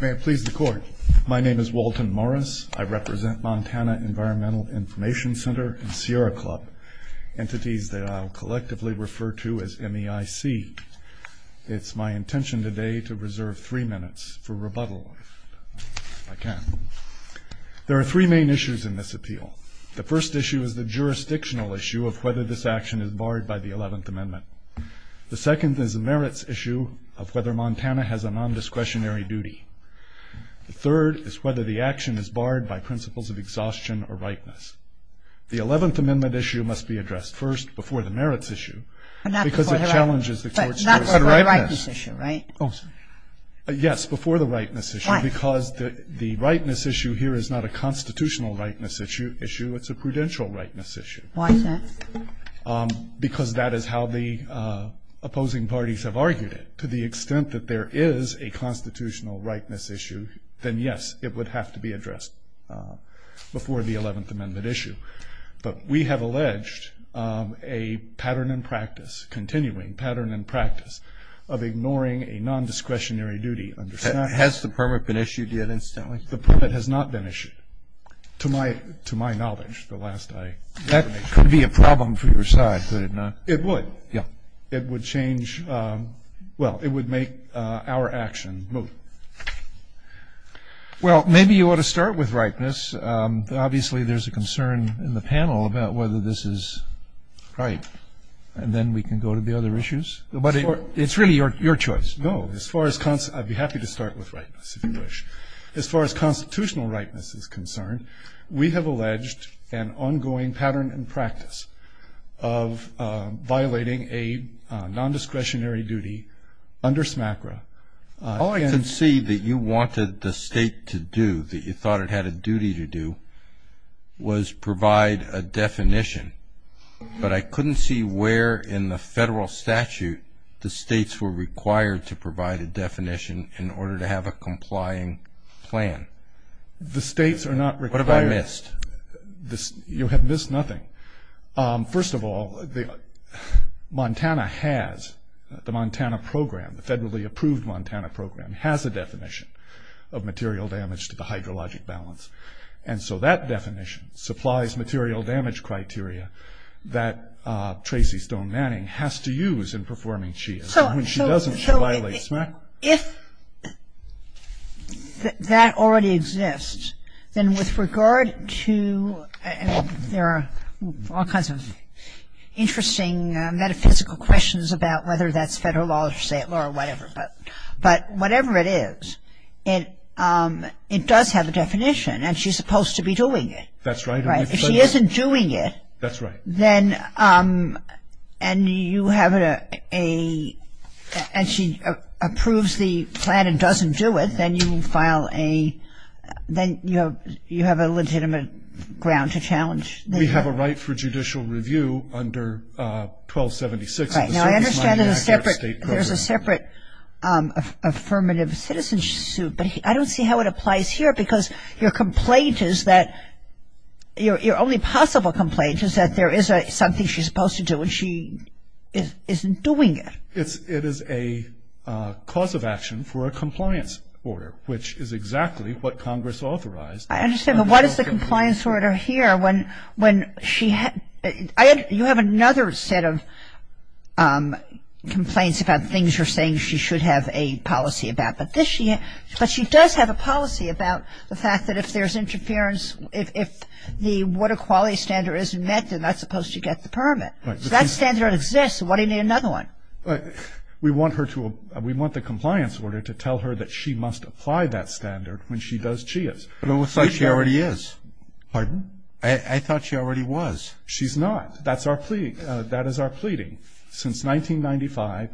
May it please the Court. My name is Walton Morris. I represent Montana Environmental Information Center and Sierra Club, entities that I'll collectively refer to as MEIC. It's my intention today to reserve three minutes for rebuttal, if I can. There are three main issues in this appeal. The first issue is the jurisdictional issue of whether this action is barred by the 11th Amendment. The second is the merits issue of whether Montana has a non-discretionary duty. The third is whether the action is barred by principles of exhaustion or rightness. The 11th Amendment issue must be addressed first, before the merits issue, because it challenges the Court's jurisdiction. But not before the rightness issue, right? Yes, before the rightness issue. Why? Because the rightness issue here is not a constitutional rightness issue. It's a prudential rightness issue. Why is that? Because that is how the opposing parties have argued it. To the extent that there is a constitutional rightness issue, then yes, it would have to be addressed before the 11th Amendment issue. But we have alleged a pattern in practice, continuing pattern in practice, of ignoring a non-discretionary duty. Has the permit been issued yet, incidentally? The permit has not been issued, to my knowledge, the last I heard. That could be a problem for your side, could it not? It would. Yeah. It would change, well, it would make our action move. Well, maybe you ought to start with rightness. Obviously, there's a concern in the panel about whether this is right, and then we can go to the other issues. But it's really your choice. No. I'd be happy to start with rightness, if you wish. As far as constitutional rightness is concerned, we have alleged an ongoing pattern in practice of violating a non-discretionary duty under SMACRA. All I could see that you wanted the state to do, that you thought it had a duty to do, was provide a definition. But I couldn't see where in the federal statute the states were required to provide a definition in order to have a complying plan. The states are not required. What have I missed? You have missed nothing. First of all, Montana has, the Montana program, the federally approved Montana program, has a definition of material damage to the hydrologic balance. And so that definition supplies material damage criteria that Tracy Stone Manning has to use in performing CHIA. So if that already exists, then with regard to, there are all kinds of interesting metaphysical questions about whether that's federal law or whatever. But whatever it is, it does have a definition, and she's supposed to be doing it. That's right. If she isn't doing it. That's right. Then, and you have a, and she approves the plan and doesn't do it, then you file a, then you have a legitimate ground to challenge. We have a right for judicial review under 1276. Now, I understand there's a separate affirmative citizen suit, but I don't see how it applies here because your complaint is that, your only possible complaint is that there is something she's supposed to do and she isn't doing it. It is a cause of action for a compliance order, which is exactly what Congress authorized. I understand, but what is the compliance order here when she, you have another set of complaints about things you're saying she should have a policy about. But she does have a policy about the fact that if there's interference, if the water quality standard isn't met, then that's supposed to get the permit. So that standard exists. Why do you need another one? We want her to, we want the compliance order to tell her that she must apply that standard when she does CHIAs. But it looks like she already is. Pardon? I thought she already was. She's not. That's our plea, that is our pleading. Since 1995,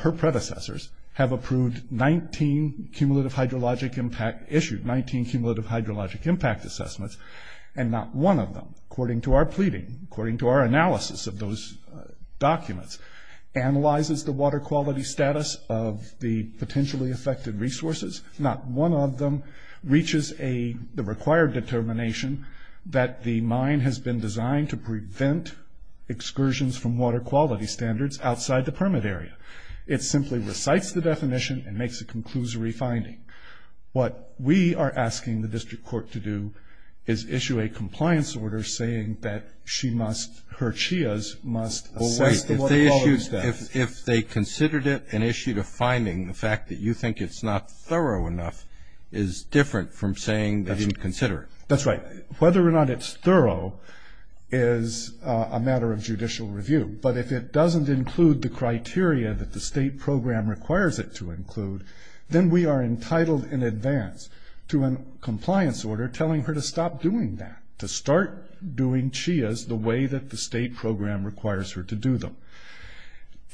her predecessors have approved 19 cumulative hydrologic impact, issued 19 cumulative hydrologic impact assessments, and not one of them, according to our pleading, according to our analysis of those documents, analyzes the water quality status of the potentially affected resources. Not one of them reaches the required determination that the mine has been designed to prevent excursions from water quality standards outside the permit area. It simply recites the definition and makes a conclusory finding. What we are asking the district court to do is issue a compliance order saying that she must, her CHIAs must assess the water quality status. If they considered it and issued a finding, the fact that you think it's not thorough enough is different from saying they didn't consider it. That's right. Whether or not it's thorough is a matter of judicial review. But if it doesn't include the criteria that the state program requires it to include, then we are entitled in advance to a compliance order telling her to stop doing that, to start doing CHIAs the way that the state program requires her to do them.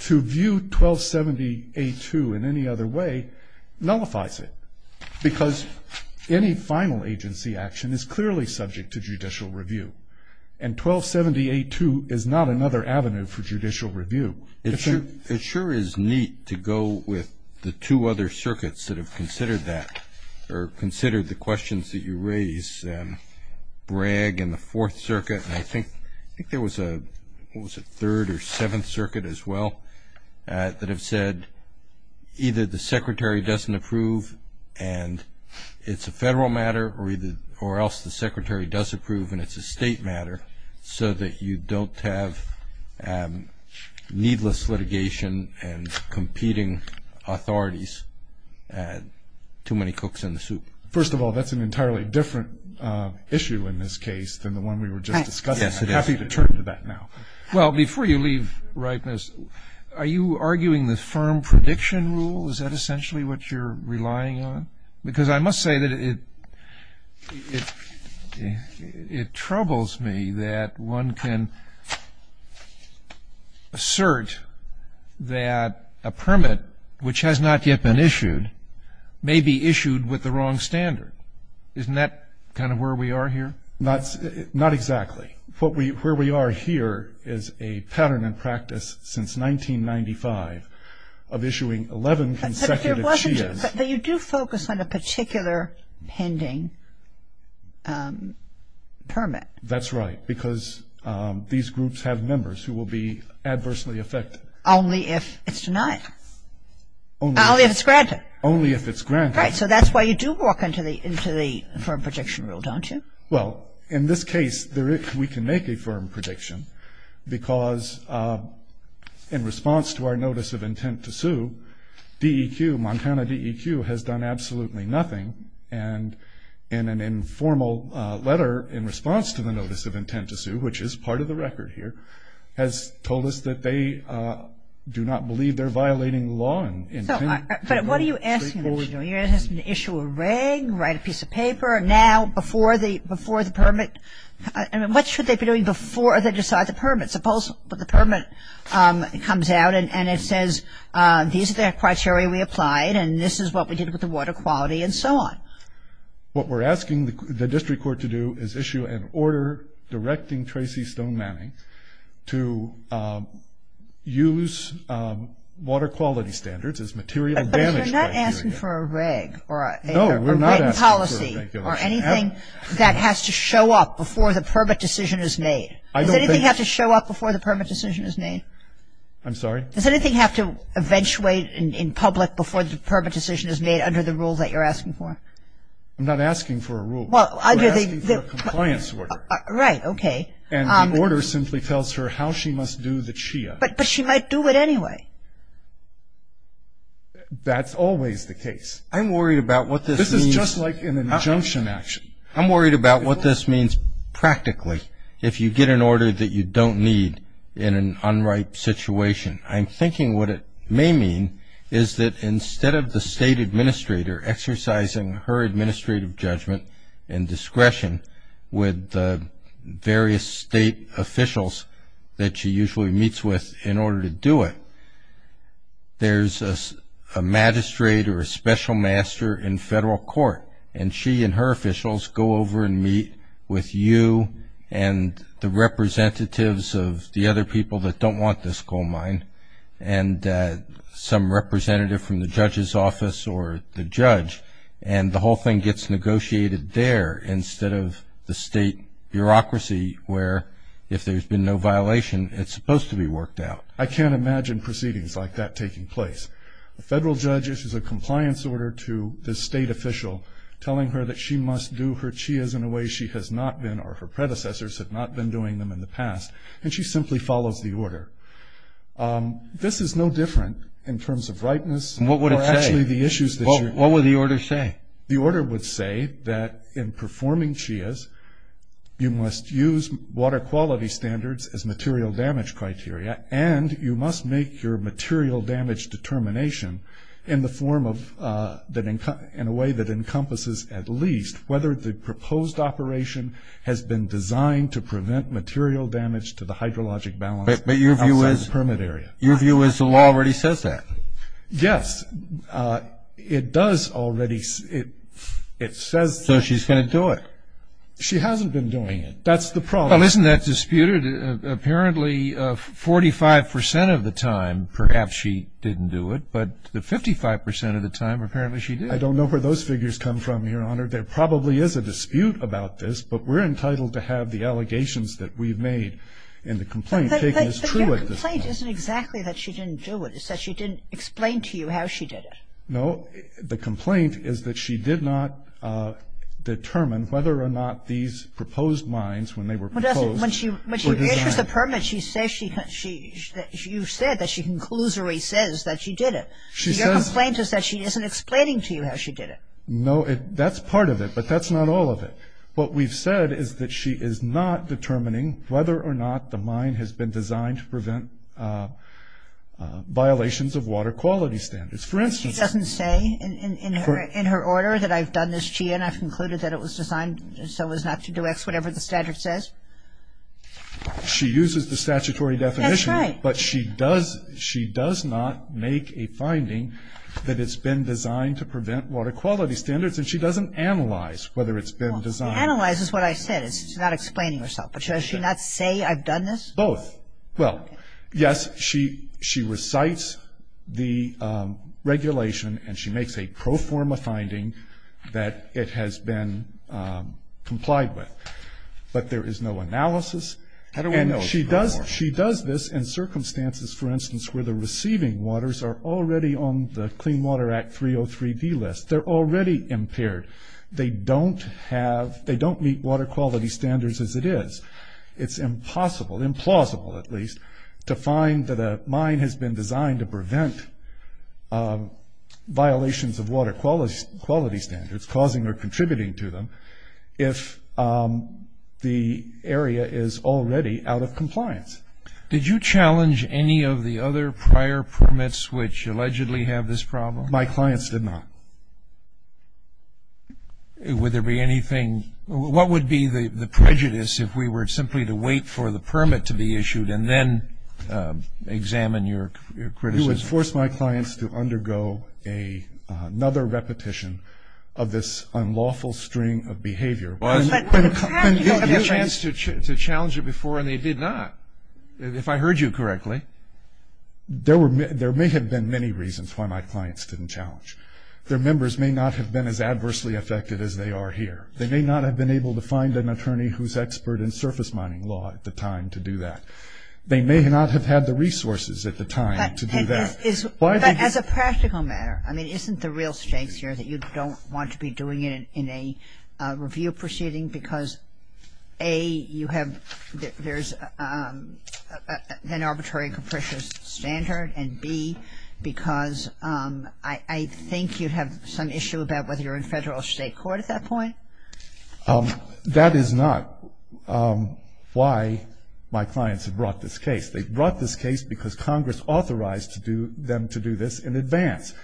To view 1270A2 in any other way nullifies it, because any final agency action is clearly subject to judicial review. And 1270A2 is not another avenue for judicial review. It sure is neat to go with the two other circuits that have considered that or considered the questions that you raised, Bragg and the Fourth Circuit. And I think there was a, what was it, Third or Seventh Circuit as well, that have said either the secretary doesn't approve and it's a federal matter or else the secretary does approve and it's a state matter, so that you don't have needless litigation and competing authorities, too many cooks in the soup. First of all, that's an entirely different issue in this case than the one we were just discussing. I'm happy to turn to that now. Well, before you leave, Reitman, are you arguing the firm prediction rule? Is that essentially what you're relying on? Because I must say that it troubles me that one can assert that a permit, which has not yet been issued, may be issued with the wrong standard. Isn't that kind of where we are here? Not exactly. Where we are here is a pattern in practice since 1995 of issuing 11 consecutive CHIAs. But you do focus on a particular pending permit. That's right, because these groups have members who will be adversely affected. Only if it's denied. Only if it's granted. Only if it's granted. Right, so that's why you do walk into the firm prediction rule, don't you? Well, in this case, we can make a firm prediction, because in response to our notice of intent to sue, DEQ, Montana DEQ, has done absolutely nothing. And in an informal letter in response to the notice of intent to sue, which is part of the record here, has told us that they do not believe they're violating the law. But what are you asking them to do? You're asking them to issue a reg, write a piece of paper. Now, before the permit, what should they be doing before they decide the permit? Suppose the permit comes out and it says these are the criteria we applied and this is what we did with the water quality and so on. What we're asking the district court to do is issue an order directing Tracy Stone Manning to use water quality standards as material damage criteria. But you're not asking for a reg or a written policy. Or anything that has to show up before the permit decision is made. Does anything have to show up before the permit decision is made? I'm sorry? Does anything have to eventuate in public before the permit decision is made under the rules that you're asking for? I'm not asking for a rule. We're asking for a compliance order. Right, okay. And the order simply tells her how she must do the CHIA. But she might do it anyway. That's always the case. I'm worried about what this means. It's just like an injunction action. I'm worried about what this means practically. If you get an order that you don't need in an unripe situation, I'm thinking what it may mean is that instead of the state administrator exercising her administrative judgment and discretion with the various state officials that she usually meets with in order to do it, there's a magistrate or a special master in federal court. And she and her officials go over and meet with you and the representatives of the other people that don't want this coal mine and some representative from the judge's office or the judge. And the whole thing gets negotiated there instead of the state bureaucracy where, if there's been no violation, it's supposed to be worked out. I can't imagine proceedings like that taking place. A federal judge issues a compliance order to the state official, telling her that she must do her CHIAs in a way she has not been or her predecessors have not been doing them in the past. And she simply follows the order. This is no different in terms of rightness. And what would it say? Or actually the issues that you're... What would the order say? The order would say that in performing CHIAs, you must use water quality standards as material damage criteria and you must make your material damage determination in the form of... in a way that encompasses at least whether the proposed operation has been designed to prevent material damage to the hydrologic balance outside the permit area. But your view is the law already says that? Yes. It does already... It says... So she's going to do it? She hasn't been doing it. That's the problem. Well, isn't that disputed? Apparently 45% of the time perhaps she didn't do it, but the 55% of the time apparently she did. I don't know where those figures come from, Your Honor. There probably is a dispute about this, but we're entitled to have the allegations that we've made in the complaint taken as true at this point. But your complaint isn't exactly that she didn't do it. It's that she didn't explain to you how she did it. No. The complaint is that she did not determine whether or not these proposed mines, when they were proposed... When she reissues the permit, you said that she conclusively says that she did it. Your complaint is that she isn't explaining to you how she did it. No. That's part of it, but that's not all of it. What we've said is that she is not determining whether or not the mine has been designed to prevent violations of water quality standards. For instance... She doesn't say in her order that I've done this to you and I've concluded that it was designed so as not to do X, whatever the standard says? She uses the statutory definition. That's right. But she does not make a finding that it's been designed to prevent water quality standards, and she doesn't analyze whether it's been designed. Analyze is what I said. It's not explaining herself. But does she not say I've done this? Both. Well, yes, she recites the regulation and she makes a pro forma finding that it has been complied with, but there is no analysis. And she does this in circumstances, for instance, where the receiving waters are already on the Clean Water Act 303D list. They're already impaired. They don't meet water quality standards as it is. It's impossible, implausible at least, to find that a mine has been designed to prevent violations of water quality standards, causing or contributing to them, if the area is already out of compliance. Did you challenge any of the other prior permits which allegedly have this problem? My clients did not. Would there be anything? I mean, what would be the prejudice if we were simply to wait for the permit to be issued and then examine your criticism? You would force my clients to undergo another repetition of this unlawful string of behavior. Well, that's what happened. You had a chance to challenge it before, and they did not, if I heard you correctly. There may have been many reasons why my clients didn't challenge. Their members may not have been as adversely affected as they are here. They may not have been able to find an attorney who's expert in surface mining law at the time to do that. They may not have had the resources at the time to do that. But as a practical matter, I mean, isn't the real strength here that you don't want to be doing it in a review proceeding because, A, there's an arbitrary and capricious standard, and, B, because I think you have some issue about whether you're in federal or state court at that point? That is not why my clients have brought this case. They've brought this case because Congress authorized them to do this in advance.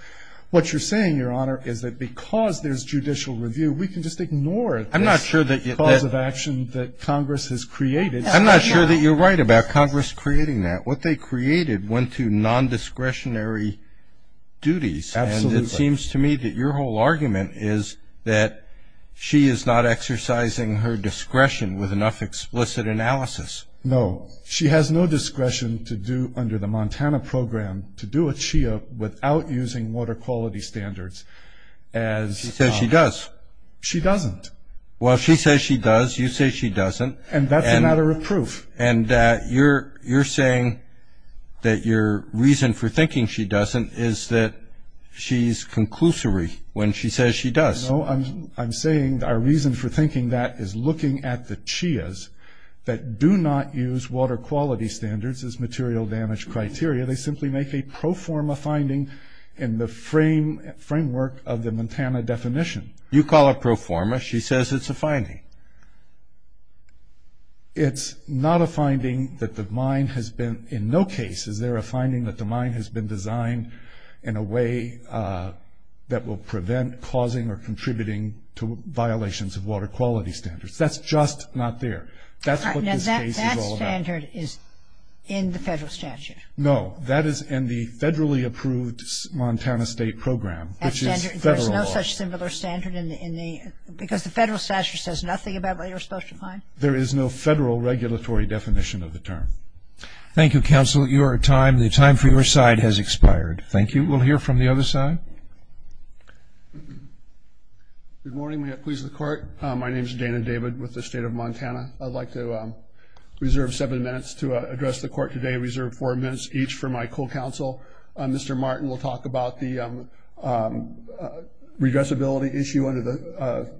What you're saying, Your Honor, is that because there's judicial review, we can just ignore the cause of action that Congress has created. I'm not sure that you're right about Congress creating that. What they created went to nondiscretionary duties. Absolutely. And it seems to me that your whole argument is that she is not exercising her discretion with enough explicit analysis. No. She has no discretion to do, under the Montana program, to do a CHIA without using water quality standards. She says she does. She doesn't. Well, she says she does. You say she doesn't. And that's a matter of proof. And you're saying that your reason for thinking she doesn't is that she's conclusory when she says she does. No, I'm saying our reason for thinking that is looking at the CHIAs that do not use water quality standards as material damage criteria. They simply make a pro forma finding in the framework of the Montana definition. You call it pro forma. She says it's a finding. It's not a finding that the mine has been, in no case, is there a finding that the mine has been designed in a way that will prevent causing or contributing to violations of water quality standards. That's just not there. That's what this case is all about. Now, that standard is in the federal statute. No, that is in the federally approved Montana state program, which is federal law. There's no such similar standard in the ñ because the federal statute says nothing about what you're supposed to find. There is no federal regulatory definition of the term. Thank you, Counsel. Your time, the time for your side has expired. Thank you. We'll hear from the other side. Good morning. May it please the Court. My name is Dana David with the State of Montana. I'd like to reserve seven minutes to address the Court today, reserve four minutes each for my co-counsel. Mr. Martin will talk about the redressability issue under the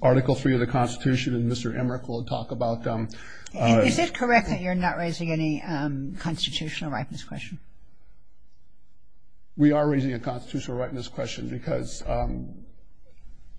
Article III of the Constitution, and Mr. Emmerich will talk about ñ Is it correct that you're not raising any constitutional right in this question? We are raising a constitutional right in this question because, again,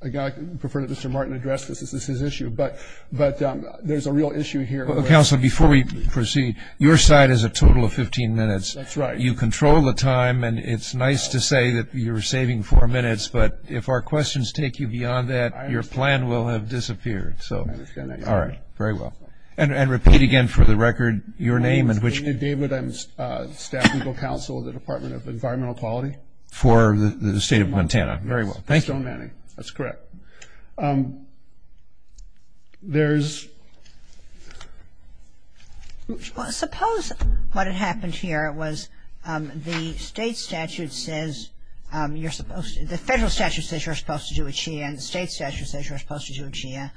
I prefer that Mr. Martin address this as his issue, but there's a real issue here. Counsel, before we proceed, your side has a total of 15 minutes. That's right. You control the time, and it's nice to say that you're saving four minutes, but if our questions take you beyond that, your plan will have disappeared. I understand that, Your Honor. All right. Very well. And repeat again for the record your name and which ñ My name is Dana David. I'm Staff Legal Counsel with the Department of Environmental Quality. For the State of Montana. Yes. Very well. Thank you. Stone Manning. That's correct. Well, suppose what had happened here was the State statute says you're supposed ñ the Federal statute says you're supposed to do a CHIA, and the State statute says you're supposed to do a CHIA,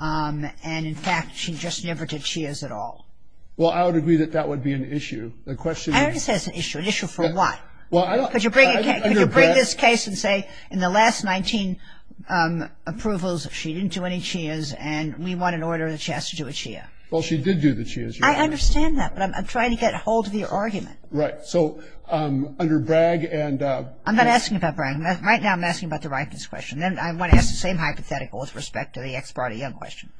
and, in fact, she just never did CHIAs at all. Well, I would agree that that would be an issue. The question is ñ I don't say it's an issue. An issue for what? Well, I don't ñ Could you bring this case and say, in the last 19 approvals, she didn't do any CHIAs, and we want an order in the Chastity to do a CHIA. Well, she did do the CHIAs, Your Honor. I understand that, but I'm trying to get a hold of your argument. Right. So, under Bragg and ñ I'm not asking about Bragg. Right now I'm asking about the rightness question. Then I want to ask the same hypothetical with respect to the Ex parte Young question.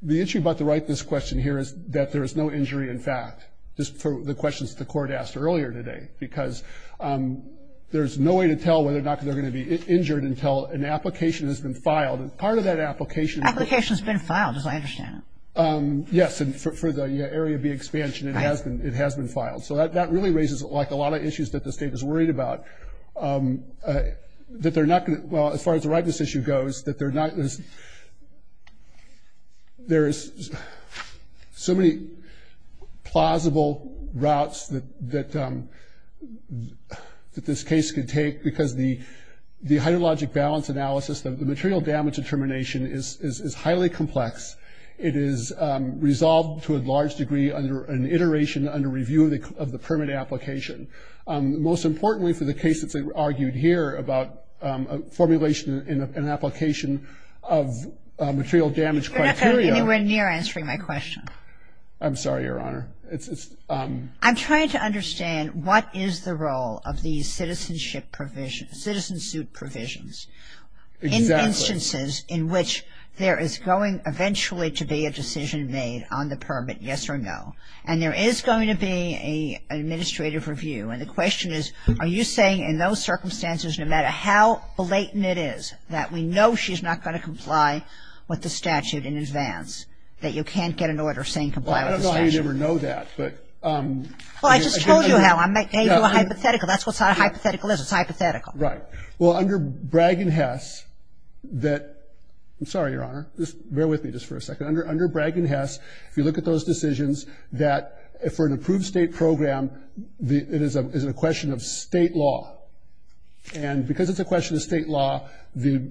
The issue about the rightness question here is that there is no injury in fact, just for the questions the Court asked earlier today, because there's no way to tell whether or not they're going to be injured until an application has been filed. And part of that application ñ Application's been filed, as I understand it. Yes, and for the Area B expansion, it has been filed. So that really raises, like, a lot of issues that the State is worried about, that they're not going to ñ well, as far as the rightness issue goes, that they're not ñ there is so many plausible routes that this case could take, because the hydrologic balance analysis, the material damage determination, is highly complex. It is resolved to a large degree under an iteration, under review of the permanent application. Most importantly, for the case that's argued here, about formulation in an application of material damage criteria ñ You're not going anywhere near answering my question. I'm sorry, Your Honor. It's ñ I'm trying to understand what is the role of these citizenship provision ñ citizen suit provisions in instances in which there is going eventually to be a decision made on the permit, yes or no. And there is going to be an administrative review. And the question is, are you saying in those circumstances, no matter how blatant it is, that we know she's not going to comply with the statute in advance, that you can't get an order saying comply with the statute? Well, I don't know how you'd ever know that, but ñ Well, I just told you how. I made you a hypothetical. That's what a hypothetical is. It's hypothetical. Right. Well, under Bragg and Hess, that ñ I'm sorry, Your Honor. Just bear with me just for a second. Under Bragg and Hess, if you look at those decisions, that for an approved State program, it is a question of State law. And because it's a question of State law, the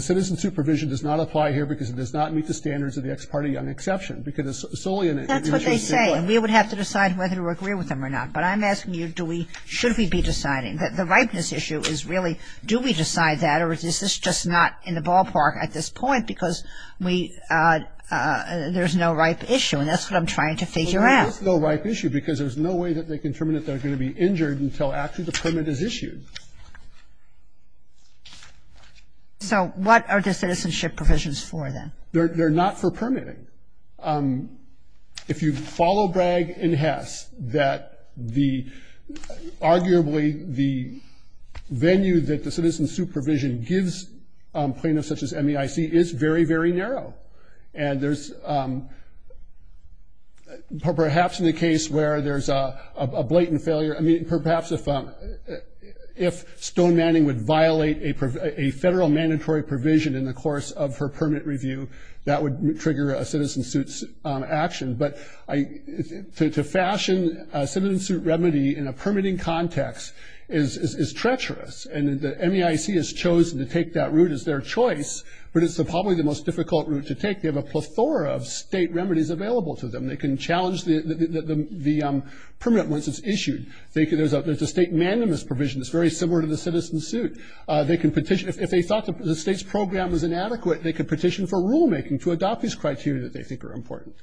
citizen supervision does not apply here because it does not meet the standards of the Ex parte Young Exception. Because it's solely an ñ That's what they say. And we would have to decide whether to agree with them or not. But I'm asking you, do we ñ should we be deciding? The ripeness issue is really, do we decide that, or is this just not in the ballpark at this point because we ñ there's no ripe issue. And that's what I'm trying to figure out. There is no ripe issue, because there's no way that they can determine that they're going to be injured until actually the permit is issued. So what are the citizenship provisions for, then? They're not for permitting. If you follow Bragg and Hess, that the ñ arguably the venue that the citizen supervision gives plaintiffs such as MEIC is very, very narrow. And there's ñ perhaps in the case where there's a blatant failure ñ I mean, perhaps if Stone-Manning would violate a federal mandatory provision in the course of her permit review, that would trigger a citizen suit action. But to fashion a citizen suit remedy in a permitting context is treacherous. And the MEIC has chosen to take that route as their choice, but it's probably the most difficult route to take. They have a plethora of state remedies available to them. They can challenge the permit once it's issued. There's a state mandamus provision that's very similar to the citizen suit. They can petition ñ if they thought the state's program was inadequate, they could petition for rulemaking to adopt these criteria that they think are important.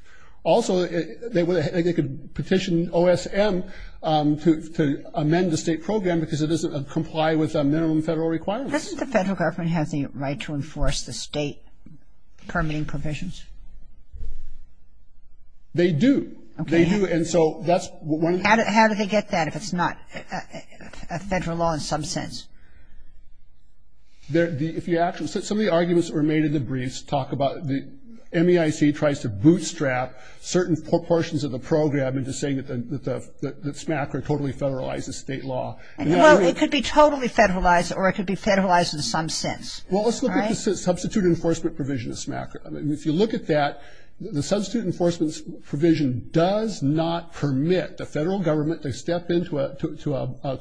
Also, they could petition OSM to amend the state program because it doesn't comply with minimum federal requirements. So doesn't the federal government have the right to enforce the state permitting provisions? They do. Okay. They do, and so that's ñ How do they get that if it's not a federal law in some sense? If you actually ñ some of the arguments that were made in the briefs talk about the ñ MEIC tries to bootstrap certain portions of the program into saying that SMACRA totally federalizes state law. Well, it could be totally federalized, or it could be federalized in some sense. Well, let's look at the substitute enforcement provision of SMACRA. If you look at that, the substitute enforcement provision does not permit the federal government to step into a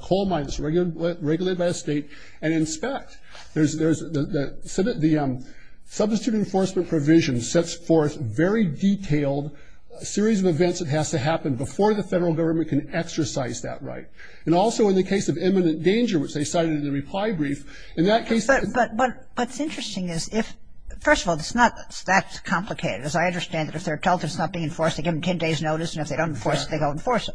coal mine that's regulated by a state and inspect. The substitute enforcement provision sets forth very detailed series of events that has to happen before the federal government can exercise that right. And also in the case of imminent danger, which they cited in the reply brief, in that case ñ But what's interesting is if ñ first of all, it's not that complicated. As I understand it, if they're told it's not being enforced, they give them 10 days' notice, and if they don't enforce it, they go enforce it.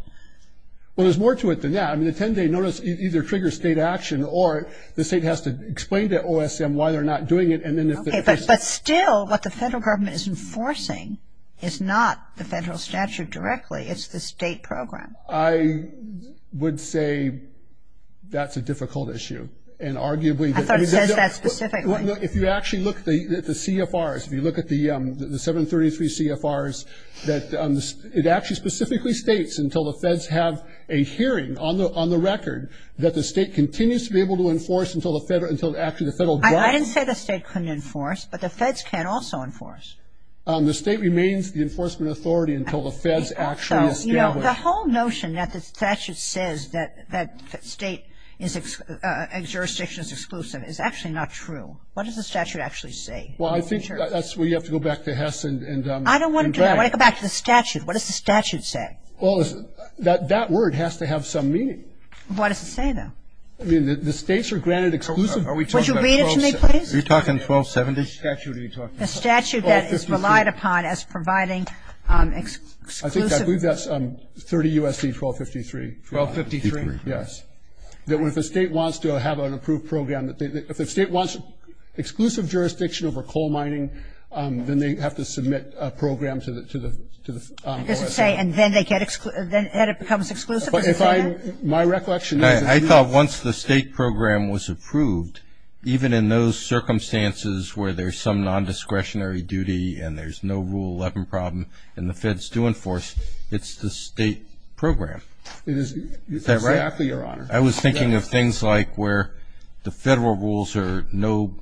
Well, there's more to it than that. I mean, the 10-day notice either triggers state action, or the state has to explain to OSM why they're not doing it, and then if they ñ Okay, but still what the federal government is enforcing is not the federal statute directly. It's the state program. I would say that's a difficult issue, and arguably ñ I thought it says that specifically. If you actually look at the CFRs, if you look at the 733 CFRs, that it actually specifically states until the feds have a hearing on the record that the state continues to be able to enforce until actually the federal government ñ I didn't say the state couldn't enforce, but the feds can also enforce. The whole notion that the statute says that state jurisdiction is exclusive is actually not true. What does the statute actually say? Well, I think that's where you have to go back to Hess and ñ I don't want to do that. I want to go back to the statute. What does the statute say? Well, that word has to have some meaning. What does it say, though? I mean, the states are granted exclusive ñ Would you read it to me, please? Are you talking 1270? What statute are you talking about? The statute that is relied upon as providing exclusive ñ I believe that's 30 U.S.C. 1253. 1253. Yes. That if the state wants to have an approved program, if the state wants exclusive jurisdiction over coal mining, then they have to submit a program to the ñ It doesn't say, and then they get ñ then it becomes exclusive? My recollection is ñ I thought once the state program was approved, even in those circumstances where there's some nondiscretionary duty and there's no Rule 11 problem and the feds do enforce, it's the state program. Is that right? Exactly, Your Honor. I was thinking of things like where the federal rules are no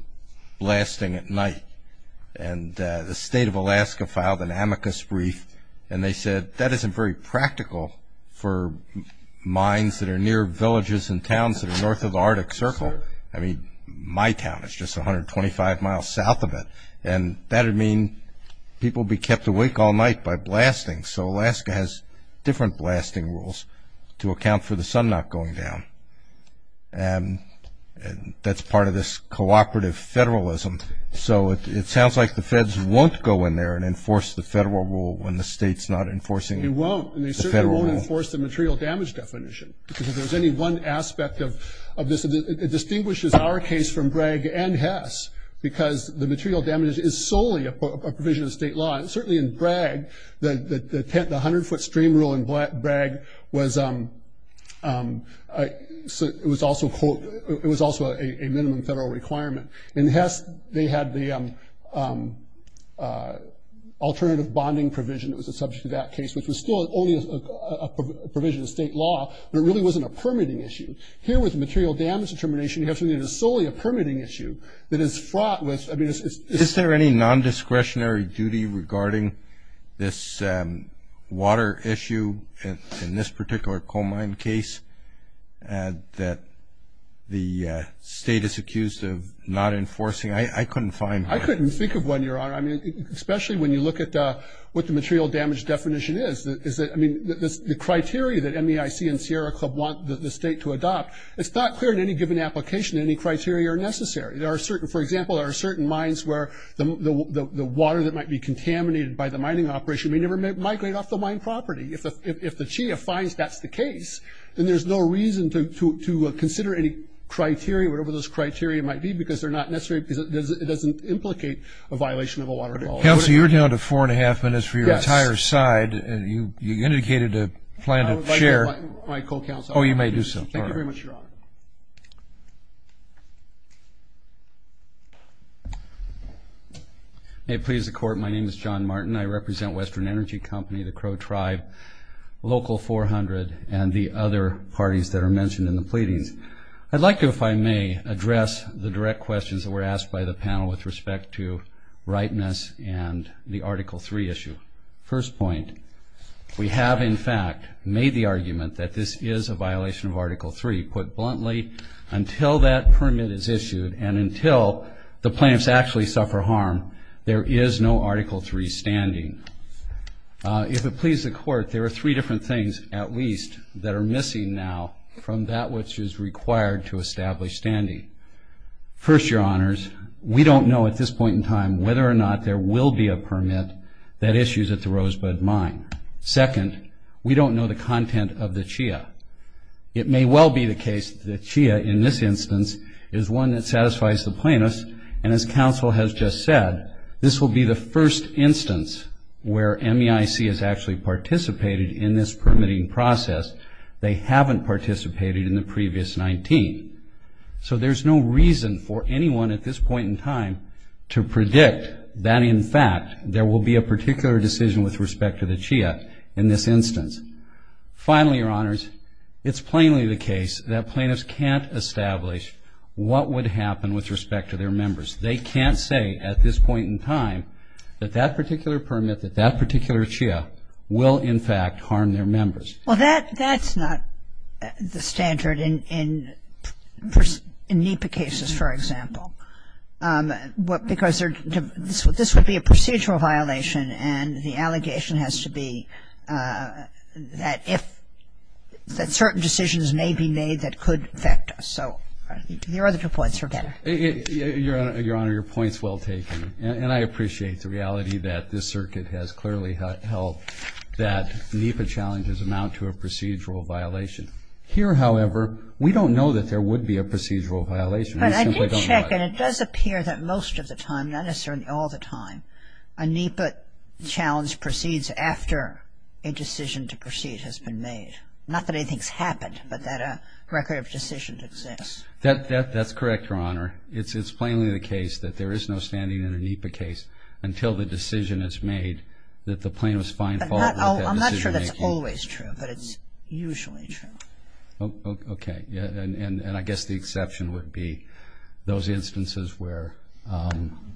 blasting at night, and the state of Alaska filed an amicus brief, and they said that isn't very practical for mines that are near villages and towns that are north of the Arctic Circle. I mean, my town is just 125 miles south of it, and that would mean people would be kept awake all night by blasting. So Alaska has different blasting rules to account for the sun not going down, and that's part of this cooperative federalism. So it sounds like the feds won't go in there and enforce the federal rule when the state's not enforcing the federal rule. They won't, and they certainly won't enforce the material damage definition because if there's any one aspect of this ñ it distinguishes our case from Bragg and Hess because the material damage is solely a provision of state law, and certainly in Bragg, the 100-foot stream rule in Bragg was also a minimum federal requirement. In Hess, they had the alternative bonding provision that was a subject to that case, which was still only a provision of state law, but it really wasn't a permitting issue. Here with the material damage determination, you have something that is solely a permitting issue that is fraught with ñ I mean, it's ñ Is there any nondiscretionary duty regarding this water issue in this particular coal mine case that the state is accused of not enforcing? I couldn't find one. I couldn't think of one, Your Honor, especially when you look at what the material damage definition is. The criteria that MEIC and Sierra Club want the state to adopt, it's not clear in any given application any criteria are necessary. There are certain ñ for example, there are certain mines where the water that might be contaminated by the mining operation may never migrate off the mine property. If the CHEA finds that's the case, then there's no reason to consider any criteria, whatever those criteria might be, because they're not necessary because it doesn't implicate a violation of a water law. Counsel, you're down to four-and-a-half minutes for your entire side. You indicated a plan to share. I would like to invite my co-counsel. Oh, you may do so. Thank you very much, Your Honor. May it please the Court, my name is John Martin. I represent Western Energy Company, the Crow Tribe, Local 400, and the other parties that are mentioned in the pleadings. I'd like to, if I may, address the direct questions that were asked by the panel with respect to rightness and the Article III issue. First point, we have, in fact, made the argument that this is a violation of Article III. Put bluntly, until that permit is issued and until the plaintiffs actually suffer harm, there is no Article III standing. If it pleases the Court, there are three different things, at least, that are missing now from that which is required to establish standing. First, Your Honors, we don't know at this point in time whether or not there will be a permit that issues at the Rosebud Mine. Second, we don't know the content of the CHIA. It may well be the case that the CHIA in this instance is one that satisfies the plaintiffs, and as counsel has just said, this will be the first instance where MEIC has actually participated in this permitting process. They haven't participated in the previous 19. So there's no reason for anyone at this point in time to predict that, in fact, there will be a particular decision with respect to the CHIA in this instance. Finally, Your Honors, it's plainly the case that plaintiffs can't establish what would happen with respect to their members. They can't say at this point in time that that particular permit, that that particular CHIA will, in fact, harm their members. Well, that's not the standard in NEPA cases, for example, because this would be a procedural violation, and the allegation has to be that if, that certain decisions may be made that could affect us. So your other two points are better. Your Honor, your point's well taken, and I appreciate the reality that this circuit has clearly held that NEPA challenges amount to a procedural violation. Here, however, we don't know that there would be a procedural violation. We simply don't know it. But I did check, and it does appear that most of the time, not necessarily all the time, a NEPA challenge proceeds after a decision to proceed has been made. Not that anything's happened, but that a record of decisions exists. That's correct, Your Honor. Your Honor, it's plainly the case that there is no standing in a NEPA case until the decision is made that the plaintiff's fine fault with that decision making. I'm not sure that's always true, but it's usually true. Okay. And I guess the exception would be those instances where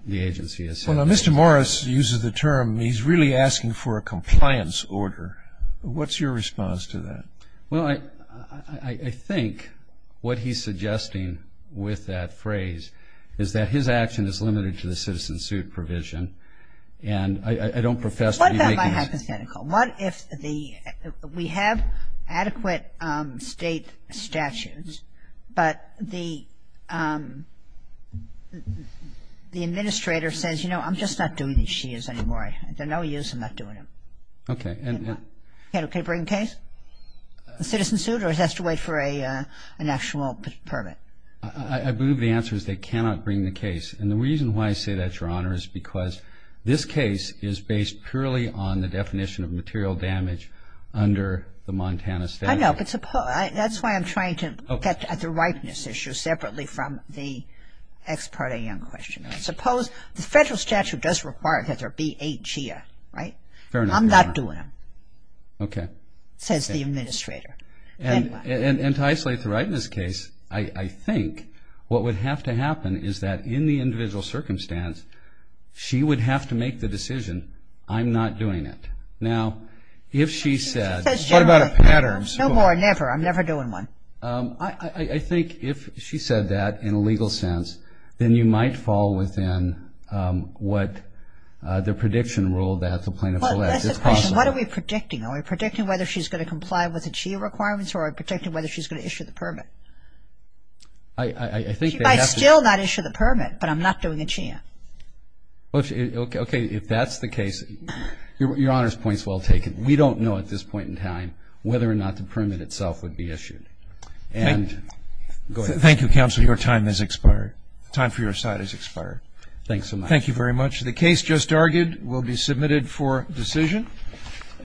the agency has said. Well, now, Mr. Morris uses the term, he's really asking for a compliance order. What's your response to that? Well, I think what he's suggesting with that phrase is that his action is limited to the citizen suit provision, and I don't profess to be making this. What if I hypothetical? What if we have adequate state statutes, but the administrator says, you know, I'm just not doing these SHIAs anymore. They're no use. I'm not doing them. Okay. Can you bring a case, a citizen suit, or does that have to wait for an actual permit? I believe the answer is they cannot bring the case. And the reason why I say that, Your Honor, is because this case is based purely on the definition of material damage under the Montana statute. I know, but that's why I'm trying to get at the ripeness issue separately from the ex parte young question. Suppose the federal statute does require that there be a SHIA, right? Fair enough. I'm not doing them. Okay. Says the administrator. And to isolate the ripeness case, I think what would have to happen is that in the individual circumstance, she would have to make the decision, I'm not doing it. Now, if she said- What about a pattern? No more, never. I'm never doing one. I think if she said that in a legal sense, then you might fall within what the prediction rule that the plaintiff selects is possible. Well, that's the question. What are we predicting? Are we predicting whether she's going to comply with the SHIA requirements or are we predicting whether she's going to issue the permit? I think they have to- She might still not issue the permit, but I'm not doing a SHIA. Okay. If that's the case, Your Honor's point is well taken. We don't know at this point in time whether or not the permit itself would be issued. And- Thank you. Go ahead. The time for your side has expired. Thanks so much. Thank you very much. The case just argued will be submitted for decision.